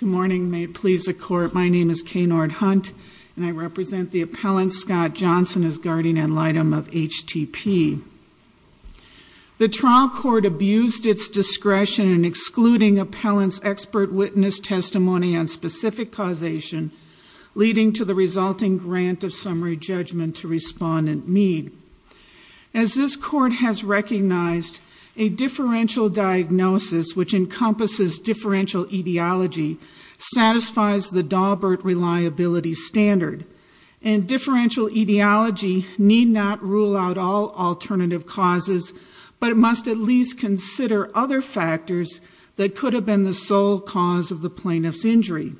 Good morning. May it please the court, my name is Kay Nordhunt and I represent the appellant Scott Johnson as guardian ad litem of HTP. The trial court abused its discretion in excluding appellant's expert witness testimony on specific causation, leading to the resulting grant of summary judgment to respondent Mead. As this court has recognized, a differential diagnosis which encompasses differential etiology satisfies the Daubert reliability standard, and differential etiology need not rule out all alternative causes, but it must at least consider other factors that could have been the sole cause of the plaintiff's injury.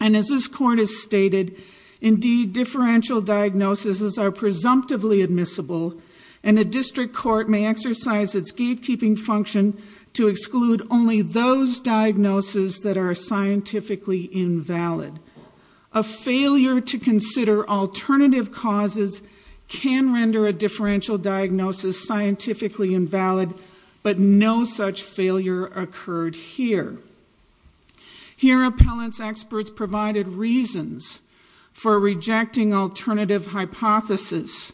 And as this court has stated, indeed differential diagnoses are presumptively admissible, and a district court may exercise its gatekeeping function to exclude only those diagnoses that are scientifically invalid. A failure to consider alternative causes can render a differential diagnosis scientifically invalid, but no such failure occurred here. Here appellant's experts provided reasons for rejecting alternative hypotheses.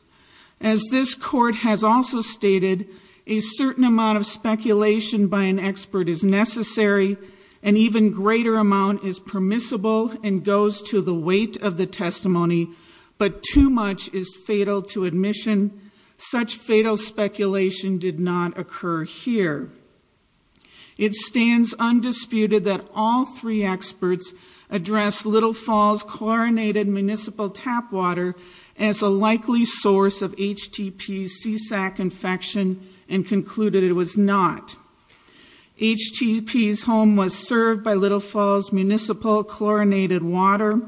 As this court has also stated, a certain amount of speculation by an expert is necessary, an even greater amount is permissible and goes to the weight of the testimony, but too much is fatal to admission. Such fatal speculation did not occur here. It stands undisputed that all three experts addressed Little Falls chlorinated municipal tap water as a likely source of HTP's CSAC infection, and concluded it was not. HTP's home was served by Little Falls municipal chlorinated water.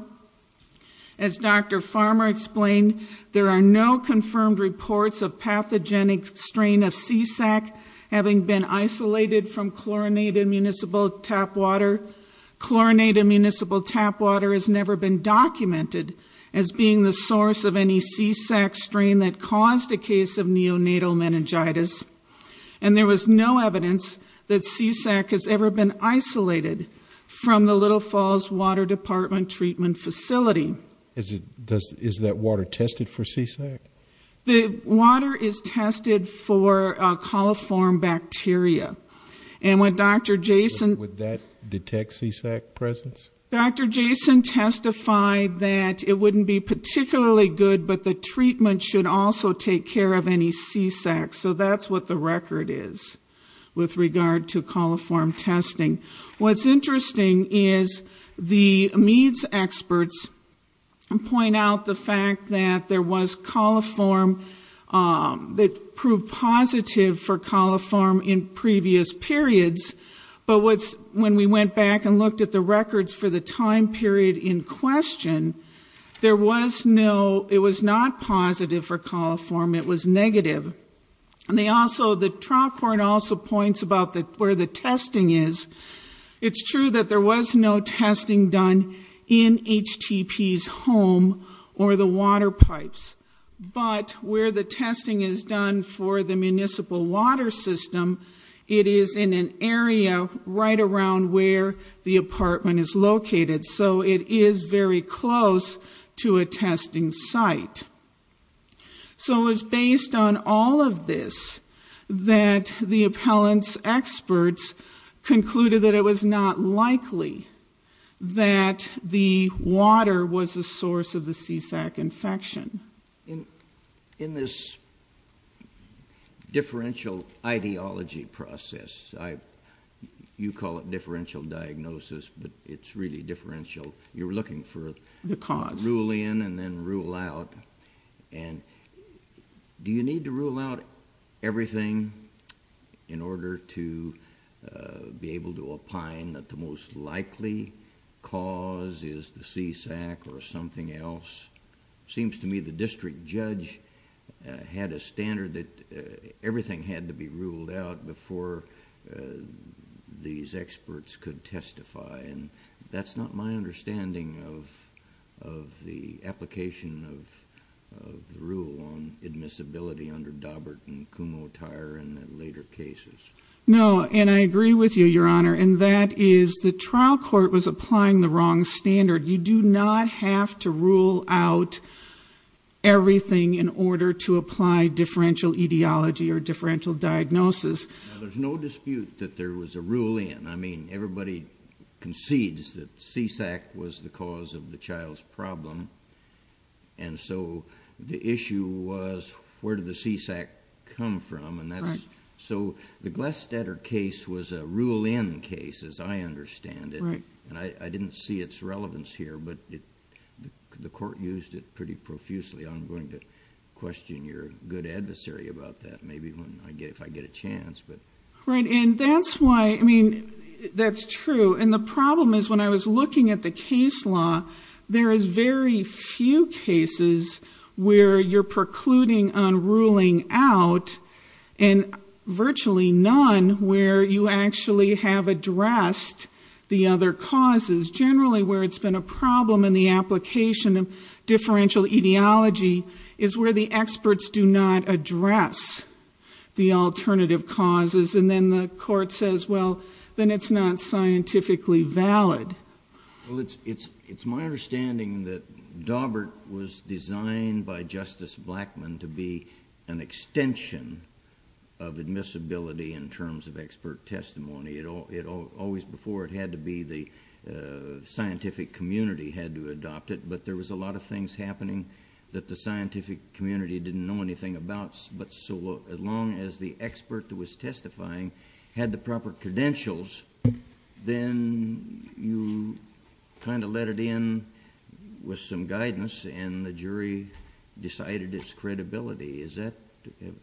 As Dr. Farmer explained, there are no confirmed reports of pathogenic strain of CSAC having been isolated from chlorinated municipal tap water. Chlorinated municipal tap water has never been documented as being the source of any CSAC strain that caused a case of neonatal meningitis, and there was no evidence that CSAC has ever been isolated from the Little Falls Water Department Treatment Facility. Is that water tested for CSAC? The water is testified that it wouldn't be particularly good, but the treatment should also take care of any CSAC, so that's what the record is with regard to coliform testing. What's interesting is the MEADS experts point out the fact that there was coliform that proved positive for coliform in previous periods, but what's, when we went back and looked at the records for the time period in question, there was no, it was not positive for coliform, it was negative. And they also, the trial court also points about where the testing is. It's true that there was no testing done in HTP's home or the water pipes, but where the testing is done for the municipal water system, it is in an area right around where the apartment is located, so it is very close to a testing site. So it was based on all of this that the appellant's experts concluded that it was not likely that the water was the source of the CSAC infection. In this differential ideology process, you call it differential diagnosis, but it's really differential, you're looking for...... The cause. Rule in, and then rule out. Do you need to rule out everything in order to be able to opine that the most likely cause is the CSAC or something else? It seems to me the district judge had a standard that everything had to be ruled out before these experts could testify, and that's not my understanding of the application of the rule on admissibility under Daubert and Kumho-Tyre in the later cases. No, and I agree with you, Your Honor, and that is the trial court was applying the wrong standard. You do not have to rule out everything in order to apply differential etiology or differential diagnosis. Now, there's no dispute that there was a rule in. I mean, everybody concedes that CSAC was the cause of the child's problem, and so the issue was where did the CSAC come from, and that's... Right................... I'm not going to question your good adversary about that, maybe if I get a chance. Right, and that's why... I mean, that's true, and the problem is when I was looking at the case law, there is very few cases where you're precluding on ruling out, and virtually none where you actually have addressed the other causes. Generally where it's been a problem in the application of differential etiology is where the experts do not address the alternative causes, and then the court says, well, then it's not scientifically valid. Well, it's my understanding that Daubert was designed by Justice Blackmun to be an extension of admissibility in terms of expert testimony. Always before, it had to be the scientific community had to adopt it, but there was a lot of things happening that the scientific community didn't know anything about, but so as long as the expert that was testifying had the proper credentials, then you kind of let it in with some guidance, and the jury decided its credibility. Is that...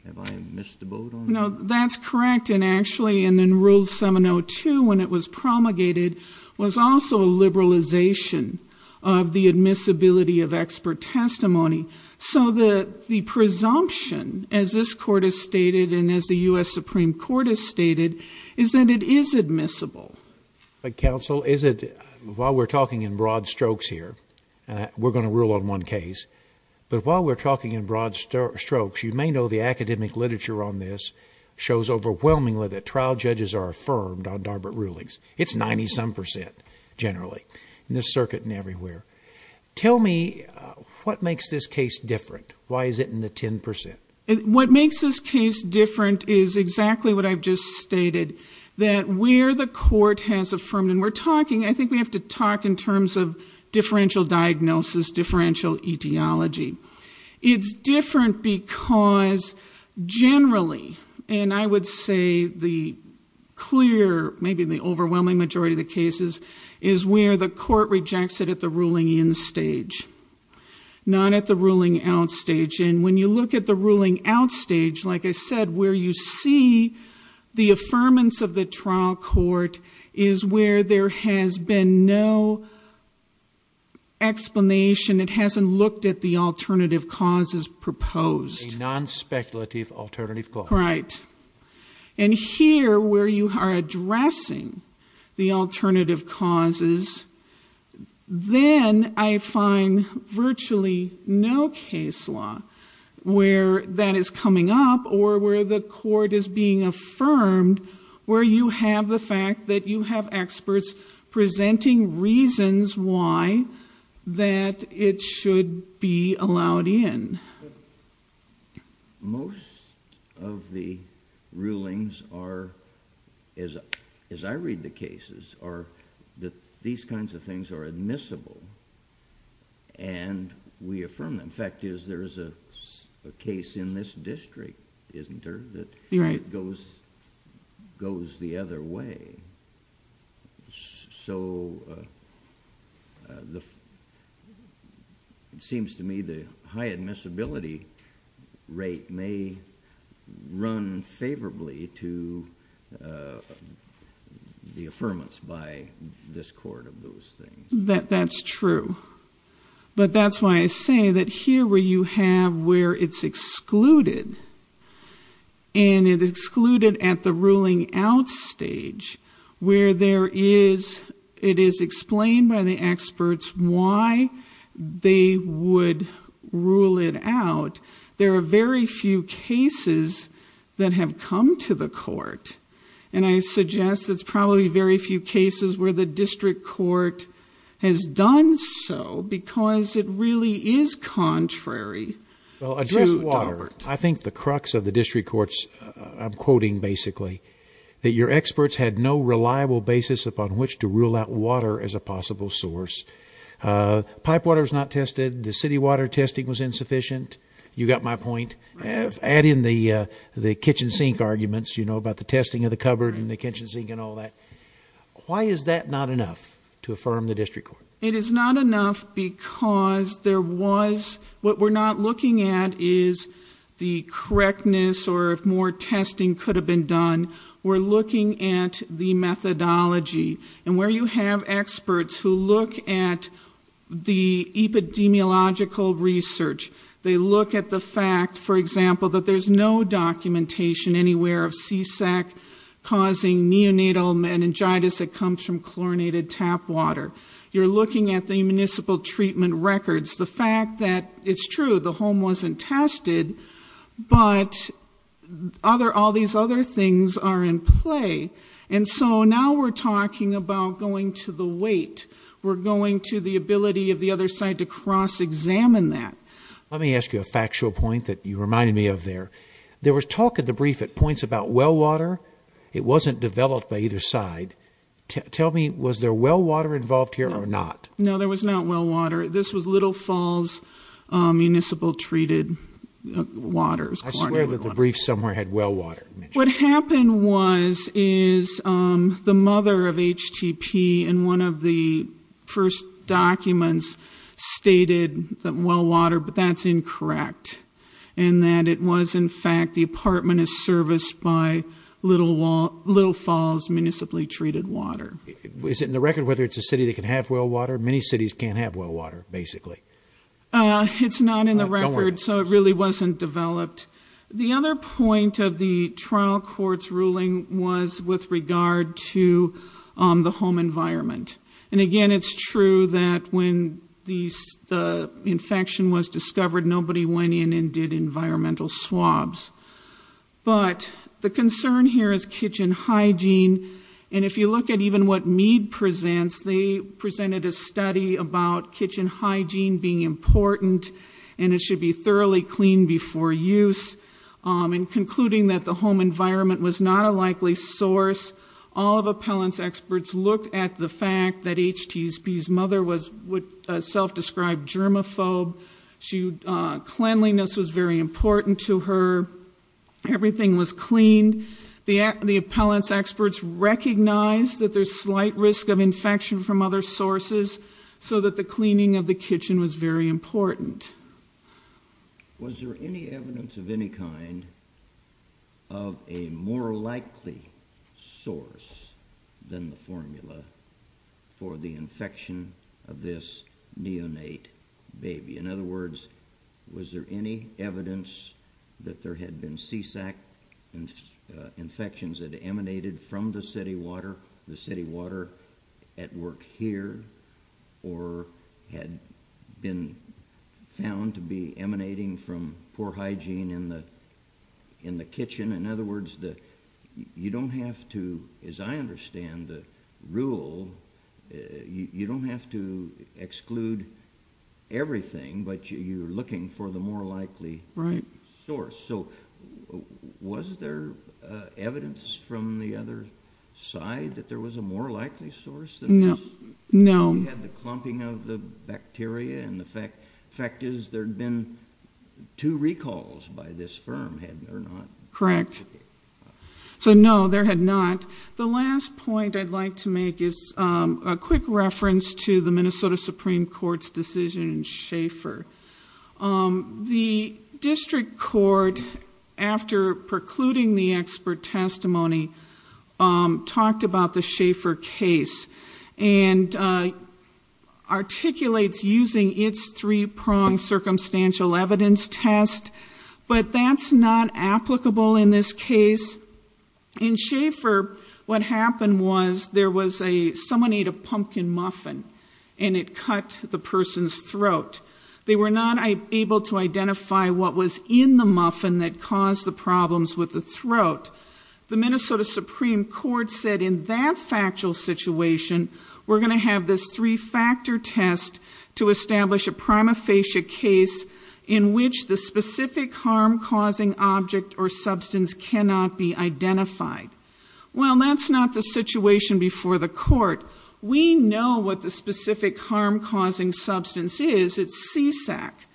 have I missed the boat on that? No, that's correct, and actually in Rule 702 when it was promulgated was also a liberalization of the admissibility of expert testimony, so the presumption, as this Court has stated and as the U.S. Supreme Court has stated, is that it is admissible. But counsel, is it... while we're talking in broad strokes here, we're going to rule on one case, but while we're talking in broad strokes, you may know the academic literature on this shows overwhelmingly that trial judges are affirmed on Darbut rulings. It's 90-some percent, generally, in this circuit and everywhere. Tell me, what makes this case different? Why is it in the 10 percent? What makes this case different is exactly what I've just stated, that where the Court has affirmed, and we're talking... I think we have to talk in terms of differential diagnosis, differential etiology. It's different because generally, and I would say the clear, maybe the overwhelming majority of the cases, is where the Court rejects it at the ruling in stage, not at the ruling out stage. And when you look at the ruling out stage, like I said, where you see the affirmance of the trial court is where there has been no explanation. It hasn't looked at the alternative causes proposed. A non-speculative alternative cause. Right. And here, where you are addressing the alternative causes, then I find virtually no case law where that is coming up or where the Court is being affirmed, where you have the fact that you have experts presenting reasons why that it should be allowed in. Most of the rulings are, as I read the cases, are that these kinds of things are admissible and we affirm them. In fact, there is a case in this district, isn't there, that goes the other way. So it seems to me the high admissibility rate may run favorably to the affirmance by this Court of those things. That's true. But that's why I say that here where you have where it's excluded and it's excluded at the ruling out stage where it is explained by the experts why they would rule it out, there are very few cases that have come to the Court. And I suggest it's probably very few cases where the district court has done so because it really is contrary. Well, address water. I think the crux of the district court's, I'm quoting basically, that your experts had no reliable basis upon which to rule out water as a possible source. Pipe water is not tested. The city water testing was insufficient. You got my point. Add in the kitchen sink arguments, you know, about the testing of the cupboard and the kitchen sink and all that. Why is that not enough to affirm the district court? It is not enough because there was, what we're not looking at is the correctness or if more testing could have been done. We're looking at the methodology. And where you have experts who look at the epidemiological research, they look at the fact, for example, that there's no documentation anywhere of CSAC causing neonatal meningitis that comes from chlorinated tap water. You're looking at the municipal treatment records. The fact that it's true, the home wasn't tested, but other, all these other things are in play. And so now we're talking about going to the weight. We're going to the ability of the other side to cross examine that. Let me ask you a factual point that you reminded me of there. There was talk at the brief at points about well water. It wasn't developed by either side. Tell me, was there well water involved here or not? No, there was not well water. This was Little Falls Municipal Treated Waters. I swear that the brief somewhere had well water. What happened was, is the mother of HTP in one of the first documents stated that well water, but that's incorrect. And that it was in fact the apartment is serviced by Little Falls Municipally Treated Water. Is it in the record whether it's a city that can have well water? Many cities can't have well water, basically. It's not in the record, so it really wasn't developed. The other point of the trial court's ruling was with regard to the home environment. And again, it's true that when the infection was developed, there were no swabs. But the concern here is kitchen hygiene. And if you look at even what Mead presents, they presented a study about kitchen hygiene being important and it should be thoroughly cleaned before use. And concluding that the home environment was not a likely source, all of appellant's experts looked at the fact that HTP's mother was a self-described germaphobe. Cleanliness was very important to her. Everything was cleaned. The appellant's experts recognized that there's slight risk of infection from other sources, so that the cleaning of the kitchen was very important. Was there any evidence of any kind of a more likely source than the formula for the infection? In other words, was there any evidence that there had been sea-sack infections that emanated from the city water, the city water at work here, or had been found to be emanating from poor hygiene in the kitchen? In other words, you don't have to, as I understand the rule, you don't have to but you're looking for the more likely source. So was there evidence from the other side that there was a more likely source? No. You had the clumping of the bacteria and the fact is there had been two recalls by this firm, had there not? Correct. So no, there had not. The last point I'd like to make is a quick reference to the Minnesota Supreme Court's decision in Schaefer. The district court, after precluding the expert testimony, talked about the Schaefer case and articulates using its three-pronged circumstantial evidence test, but that's not applicable in this case. In Schaefer, what happened was there was a, someone took a chicken muffin and it cut the person's throat. They were not able to identify what was in the muffin that caused the problems with the throat. The Minnesota Supreme Court said in that factual situation, we're going to have this three-factor test to establish a prima facie case in which the specific harm-causing object or substance cannot be identified. Well, that's not the specific harm-causing substance is, it's C-sac.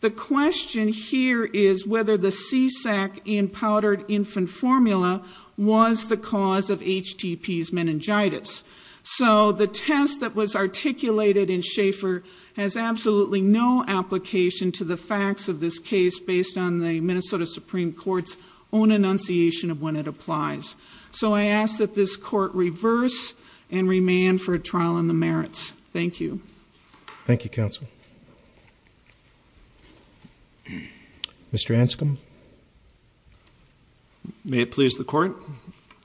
The question here is whether the C-sac in powdered infant formula was the cause of HTP's meningitis. So the test that was articulated in Schaefer has absolutely no application to the facts of this case based on the Minnesota Supreme Court's own enunciation of when it applies. So I ask that this court reverse and remand for a trial on the merits. Thank you. Thank you, counsel. Mr. Anscombe. May it please the court.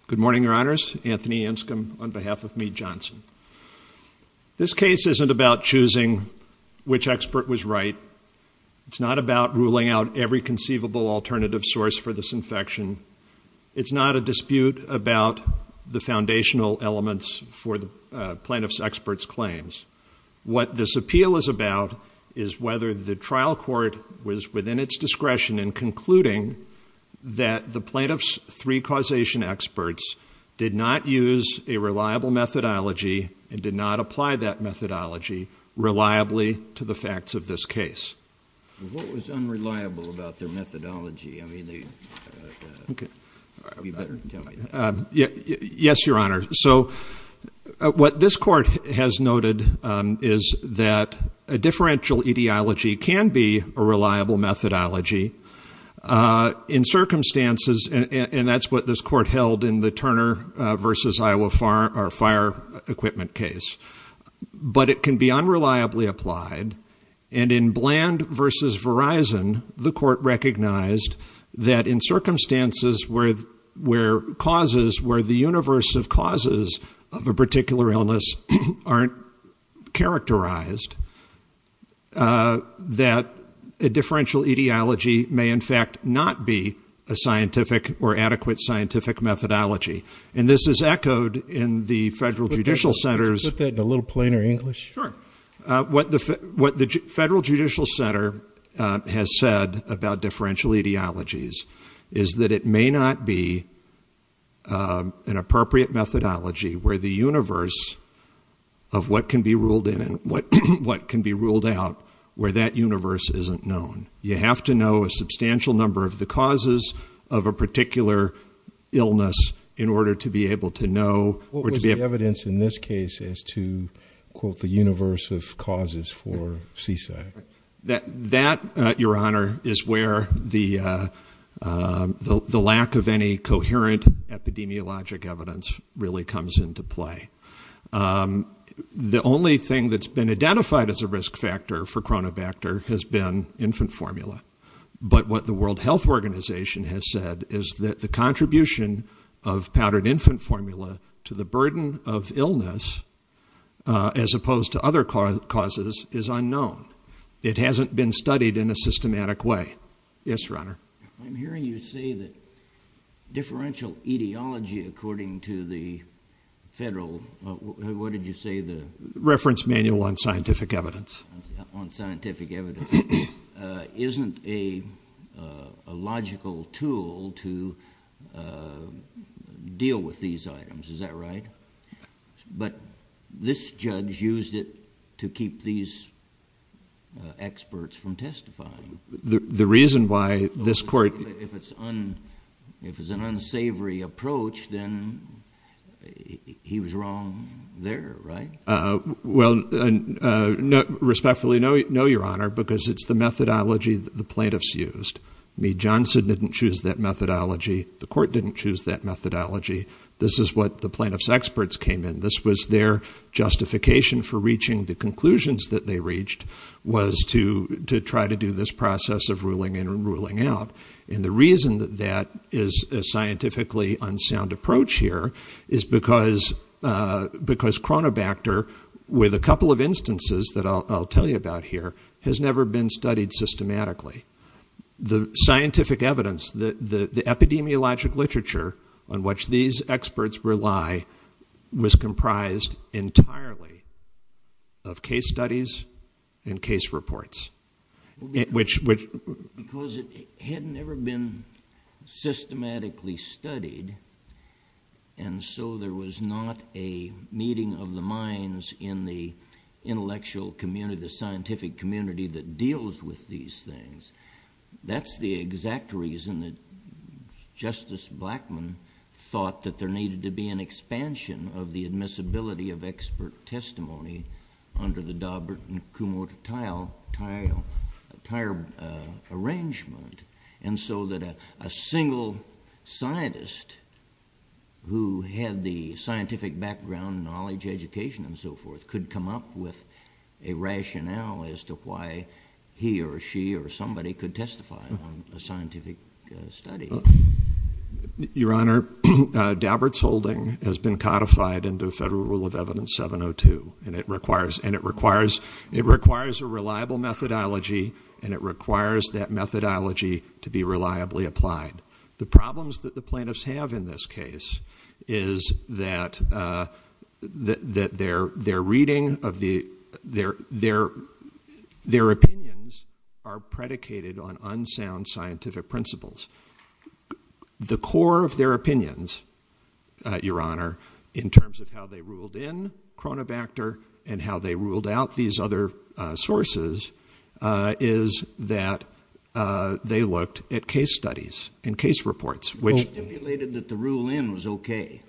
Good morning, your honors. Anthony Anscombe on behalf of Mead Johnson. This case isn't about choosing which expert was right. It's not about ruling out every element. This is not a dispute about the foundational elements for the plaintiff's expert's claims. What this appeal is about is whether the trial court was within its discretion in concluding that the plaintiff's three causation experts did not use a reliable methodology and did not apply that methodology reliably to the facts of this case. Yes, your honor. So what this court has noted is that a differential etiology can be a reliable methodology in circumstances, and that's what this court held in the Turner versus Iowa Fire Equipment case, but it can be unreliably applied. And in Bland versus Verizon, the court recognized that in circumstances where causes, where the universe of causes of a particular illness aren't characterized, that a differential etiology may in fact not be a scientific or adequate scientific methodology. And this is what the Federal Judicial Center has said about differential etiologies, is that it may not be an appropriate methodology where the universe of what can be ruled in and what can be ruled out, where that universe isn't known. You have to know a substantial number of the causes of a particular illness in order to be able to know. What was the evidence in this case as to, quote, the universe of causes for CSA? That, your honor, is where the lack of any coherent epidemiologic evidence really comes into play. The only thing that's been identified as a risk factor for chronobacter has been infant formula, but what the World Health Organization has said is that the contribution of other causes is unknown. It hasn't been studied in a systematic way. Yes, your honor. I'm hearing you say that differential etiology, according to the federal, what did you say the reference manual on scientific evidence on scientific evidence, uh, isn't a, uh, a logical tool to, uh, deal with these to keep these, uh, experts from testifying. The reason why this court, if it's on, if it's an unsavory approach, then he was wrong there, right? Uh, well, uh, no, respectfully, no, no, your honor, because it's the methodology that the plaintiffs used me. Johnson didn't choose that methodology. The court didn't choose that methodology. This is what the plaintiffs experts came in. This was their justification for reaching the conclusions that they reached was to, to try to do this process of ruling in and ruling out. And the reason that that is a scientifically unsound approach here is because, uh, because chronobacter with a couple of instances that I'll tell you about here has never been studied systematically. The scientific evidence that the epidemiologic literature on which these experts rely was comprised entirely of case studies and case reports, which, which had never been systematically studied. And so there was not a meeting of the minds in the intellectual community, the scientific community that deals with these things. That's the exact reason that Justice Blackmun thought that there needed to be an expansion of the admissibility of expert testimony under the Daubert and Kumho Tile, Tile, Tire, uh, arrangement. And so that a, a single scientist who had the scientific background, knowledge, education, and so forth could come up with a rationale as to why he or she or somebody could testify on a scientific study. Your Honor, uh, Daubert's holding has been codified into a federal rule of evidence 702 and it requires, and it requires, it requires a reliable methodology and it requires that methodology to be reliably applied. The problems that the plaintiffs have in this case is that, uh, that, that their, their reading of the, their, their, their opinions are predicated on unsound scientific principles. The core of their opinions, uh, Your Honor, in terms of how they ruled in Cronobacter and how they ruled out these other, uh, sources, uh, is that, uh, they looked at case studies and case reports, which stipulated that the rule in was okay.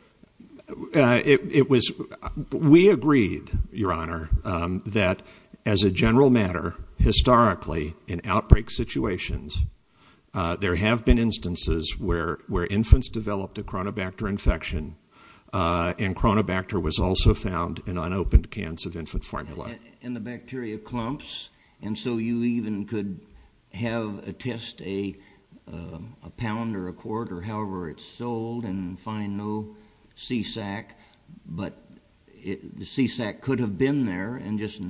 Uh, it was, we agreed, Your Honor, um, that as a general matter, historically in outbreak situations, uh, there have been instances where, where infants developed a Cronobacter infection, uh, and Cronobacter was also found in unopened cans of infant formula. And the bacteria clumps. And so you even could have a test, a, um, a pound or a quarter, however it's sold and find no C-sac, but the C-sac could have been there and just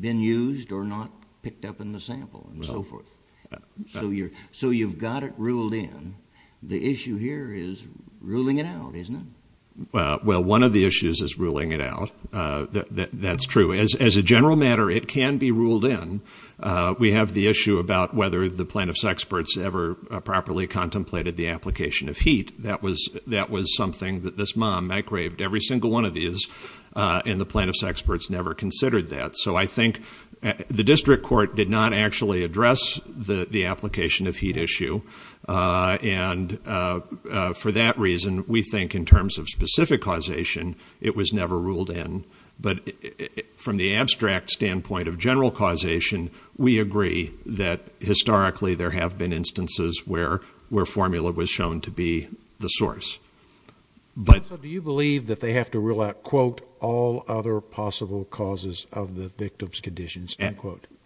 been used or not picked up in the sample and so forth. So you're, so you've got it ruled in. The issue here is ruling it out, isn't it? Uh, well, one of the issues is ruling it out. Uh, that, that's true as, as a general matter, it can be ruled in. Uh, we have the issue about whether the plaintiff's experts ever properly contemplated the application of heat. That was, that was something that this mom, I craved every single one of these, uh, and the plaintiff's experts never considered that. So I think the district court did not actually address the, the application of heat issue. Uh, and, uh, uh, for that reason, we think in terms of specific causation, it was never ruled in, but from the abstract standpoint of general causation, we agree that historically there have been instances where, where formula was shown to be the source. But do you believe that they have to rule out quote all other possible causes of the victims conditions?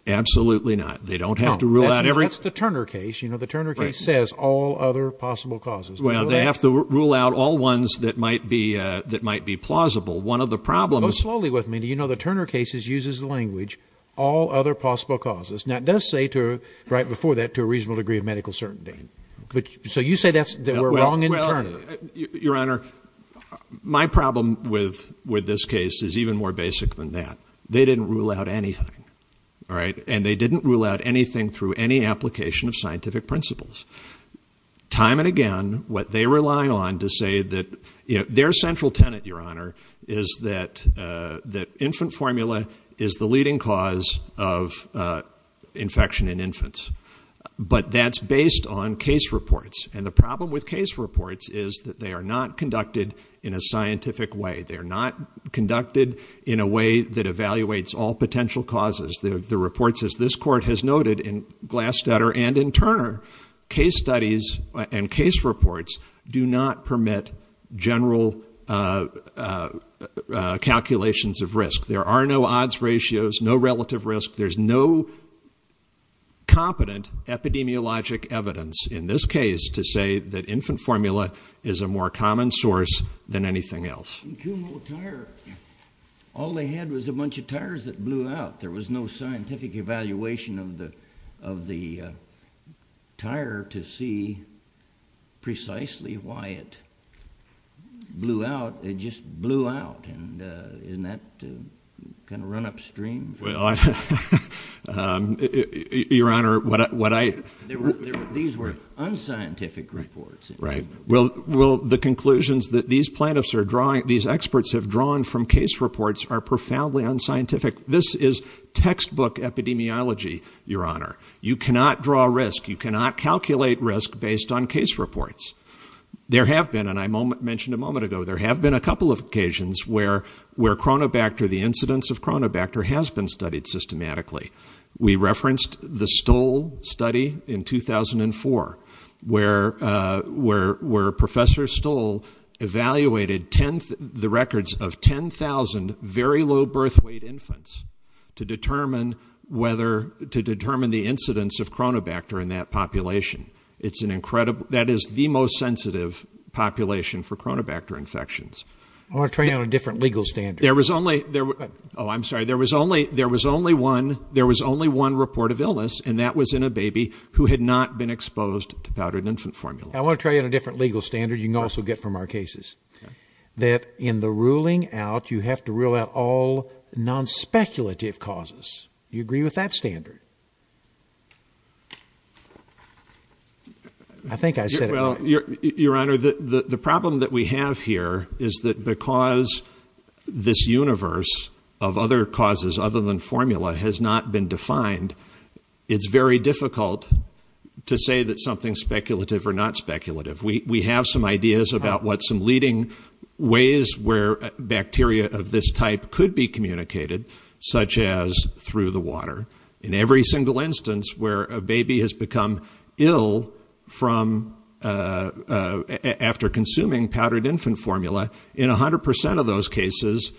Absolutely not. They don't have to rule out every, that's the Turner case. You know, the Turner case says all other possible causes. Well, they have to rule out all ones that might be, uh, that might be plausible. One of the problems, slowly with me, do you know the Turner cases uses the language, all other possible causes. Now it does say to right before that, to a reasonable degree of medical certainty. But so you say that's that we're wrong in your honor. My problem with, with this case is even more basic than that. They didn't rule out anything. All right. And they didn't rule out anything through any application of scientific principles. Time and again, what they rely on to say that, you know, their central tenant, your honor, is that, uh, that infant formula is the leading cause of, uh, infection in infants, but that's based on case reports. And the problem with case reports is that they are not conducted in a way that evaluates all potential causes. The reports, as this court has noted in Glass-Dutter and in Turner, case studies and case reports do not permit general, uh, uh, uh, uh, calculations of risk. There are no odds ratios, no relative risk. There's no competent epidemiologic evidence in this case to say that infant formula is a more common source than anything else. All they had was a bunch of tires that blew out. There was no scientific evaluation of the, of the, uh, tire to see precisely why it blew out. It just blew out. And, uh, isn't that kind of run upstream? Um, your honor, what I, what I, these were unscientific reports, right? Well, the conclusions that these plaintiffs are drawing, these experts have drawn from case reports are profoundly unscientific. This is textbook epidemiology, your honor. You cannot draw risk. You cannot calculate risk based on case reports. There have been, and I mentioned a moment ago, there have been a couple of occasions where, where chronobacter, the incidence of chronobacter has been studied systematically. We referenced the Stoll study in 2004, where, uh, where, where professor Stoll evaluated 10th, the records of 10,000 very low birth weight infants to determine whether to determine the incidence of chronobacter in that population. It's an incredible, that is the most sensitive population for chronobacter infections. I want to try out a different legal standard. There was only there. Oh, I'm sorry. There was only, there was only one, there was only one report of illness and that was in a baby who had not been exposed to powdered infant formula. I want to try it in a different legal standard. You can also get from our cases that in the ruling out, you have to rule out all non-speculative causes. You agree with that standard? I think I said, well, your, your honor, the, the, the problem that we have here is that because this universe of other causes other than formula has not been defined, it's very difficult to say that something speculative or not speculative. We have some ideas about what some leading ways where bacteria of this type could be communicated, such as through the water in every single instance where a baby has become ill from, uh, uh, after consuming powdered infant formula in a hundred percent of those cases,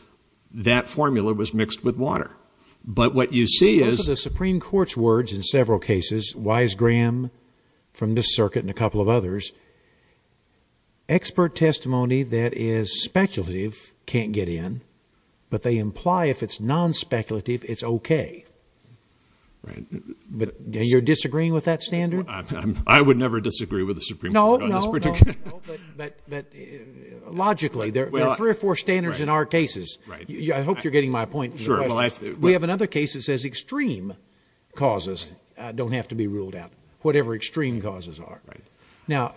that formula was mixed with the Supreme court's words in several cases, wise Graham from the circuit and a couple of others, expert testimony that is speculative can't get in, but they imply if it's non-speculative, it's okay. Right. But you're disagreeing with that standard. I would never disagree with the Supreme. Logically there are three or four standards in our cases. I hope you're in other cases as extreme causes, uh, don't have to be ruled out whatever extreme causes are right now.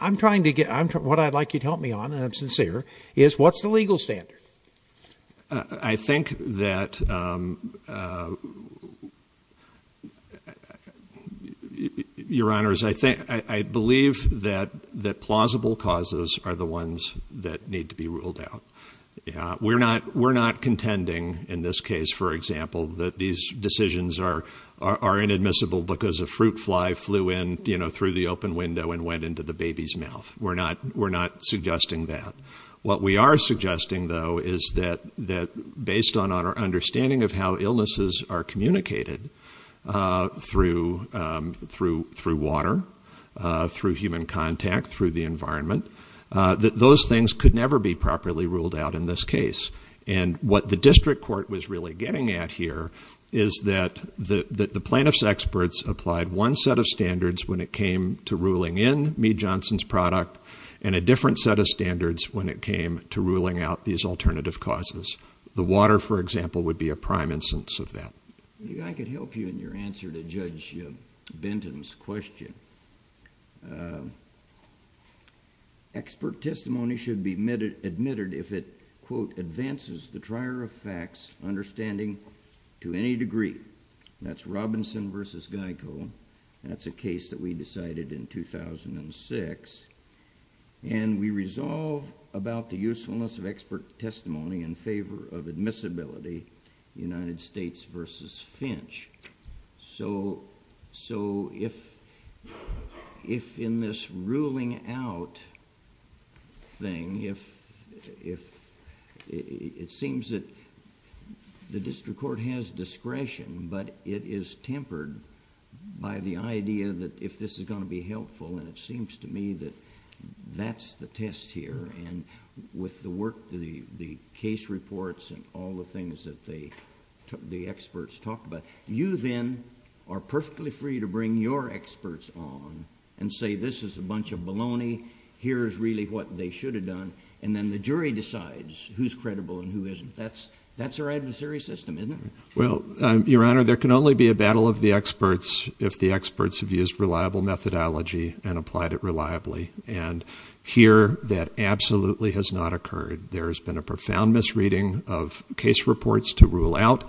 I'm trying to get, I'm trying, what I'd like you to help me on and I'm sincere is what's the legal standard. Uh, I think that, um, uh, your honors, I think, I believe that that plausible causes are the ones that need to be ruled out. Yeah. We're not, we're not contending in this case, for example, that these decisions are, are inadmissible because a fruit fly flew in, you know, through the open window and went into the baby's mouth. We're not, we're not suggesting that. What we are suggesting though, is that, that based on our understanding of how illnesses are communicated, uh, through, um, through, through water, uh, through human contact, through the environment, uh, that those things could never be properly ruled out in this case. And what the district court was really getting at here is that the, that the plaintiff's experts applied one set of standards when it came to ruling in me, Johnson's product and a different set of standards when it came to ruling out these alternative causes, the water, for example, would be a prime instance of that. You guys could help you in your answer to judge Benton's question. Uh, expert testimony should be admitted, admitted if it quote, advances the trier of facts, understanding to any degree. That's Robinson versus Geico. That's a case that we decided in 2006 and we resolve about the usefulness of expert testimony in favor of admissibility, United States versus Finch. So, so if, if in this ruling out thing, if, if it seems that the district court has discretion, but it is tempered by the idea that if this is going to be helpful and it seems to me that that's the test here and with the work, the, the case reports and all the things that they took, the experts talked about, you then are perfectly free to bring your experts on and say, this is a bunch of baloney. Here's really what they should have done. And then the jury decides who's credible and who isn't. That's, that's our adversary system, isn't it? Well, your honor, there can only be a battle of the experts if the experts have used reliable methodology and applied it reliably. And here that absolutely has not occurred. There has been a profound misreading of case reports to rule out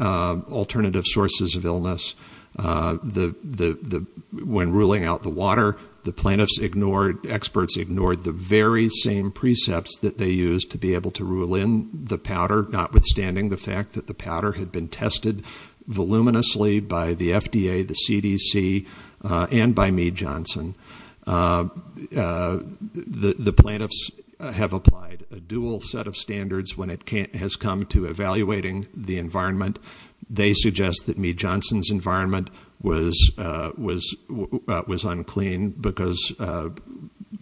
alternative sources of illness. The, the, the, when ruling out the water, the plaintiffs ignored, experts ignored the very same precepts that they use to be able to rule in the powder, notwithstanding the fact that the powder had been tested voluminously by the FDA, the CDC and by me, Johnson. The, the plaintiffs have applied a dual set of standards when it has come to evaluating the environment. They suggest that me Johnson's environment was, uh, was, uh, was unclean because, uh,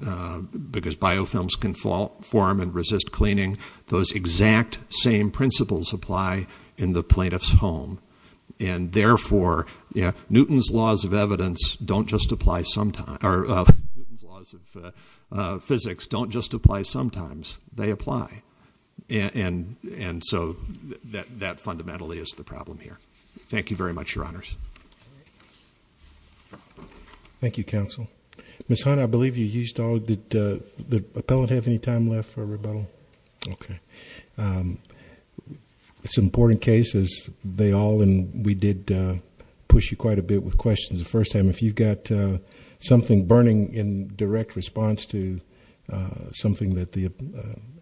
uh, because biofilms can fall form and resist cleaning. Those exact same principles apply in the plaintiff's home. And therefore, yeah, Newton's laws of evidence don't just apply. Sometimes our laws of physics don't just apply. Sometimes they apply. And, and, and so that, that fundamentally is the problem here. Thank you very much, your honors. Thank you, counsel. Ms. Hunt, I believe you used all the, uh, the appellate have any time left for rebuttal? Okay. Um, it's an important case as they all, and we did, uh, push you quite a bit with questions the first time. If you've got, uh, something burning in direct response to, uh, something that the, uh,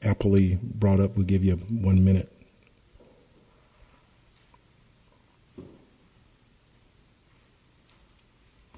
appellee brought up, we'll give you one minute.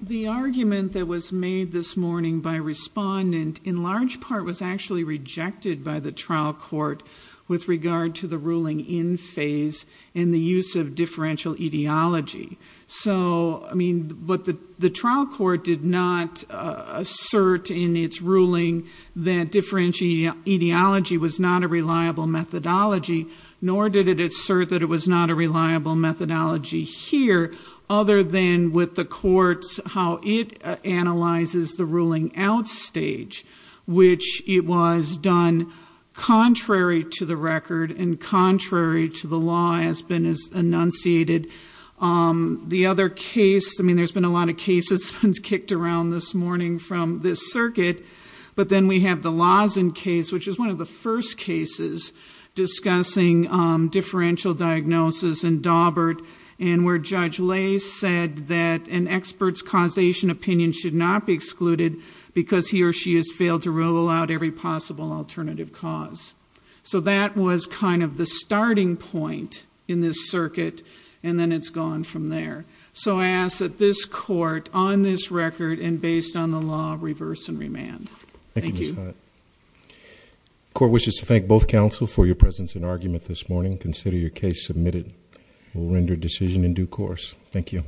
The argument that was made this morning by respondent in large part was actually rejected by the trial court with regard to the ruling in phase and the use of differential etiology. So, I mean, but the, the trial court did not, uh, assert in its ruling that differential etiology was not a reliable methodology, nor did it assert that it was not a reliable methodology here, other than with the courts, how it analyzes the ruling out stage, which it was done contrary to the record and contrary to the law has been as enunciated. Um, the other case, I mean, there's been a lot of cases kicked around this morning from this circuit, but then we have the Lawson case, which is one of the first cases discussing, um, differential diagnosis and Daubert and where judge Lay said that an expert's causation opinion should not be excluded because he or she has failed to rule out every possible alternative cause. So that was kind of the starting point in this circuit and then it's gone from there. So I ask that this court on this record and based on the law reverse and remand. Thank you. Court wishes to thank both counsel for your presence in argument this morning. Consider your case submitted. We'll render decision in due course. Thank you.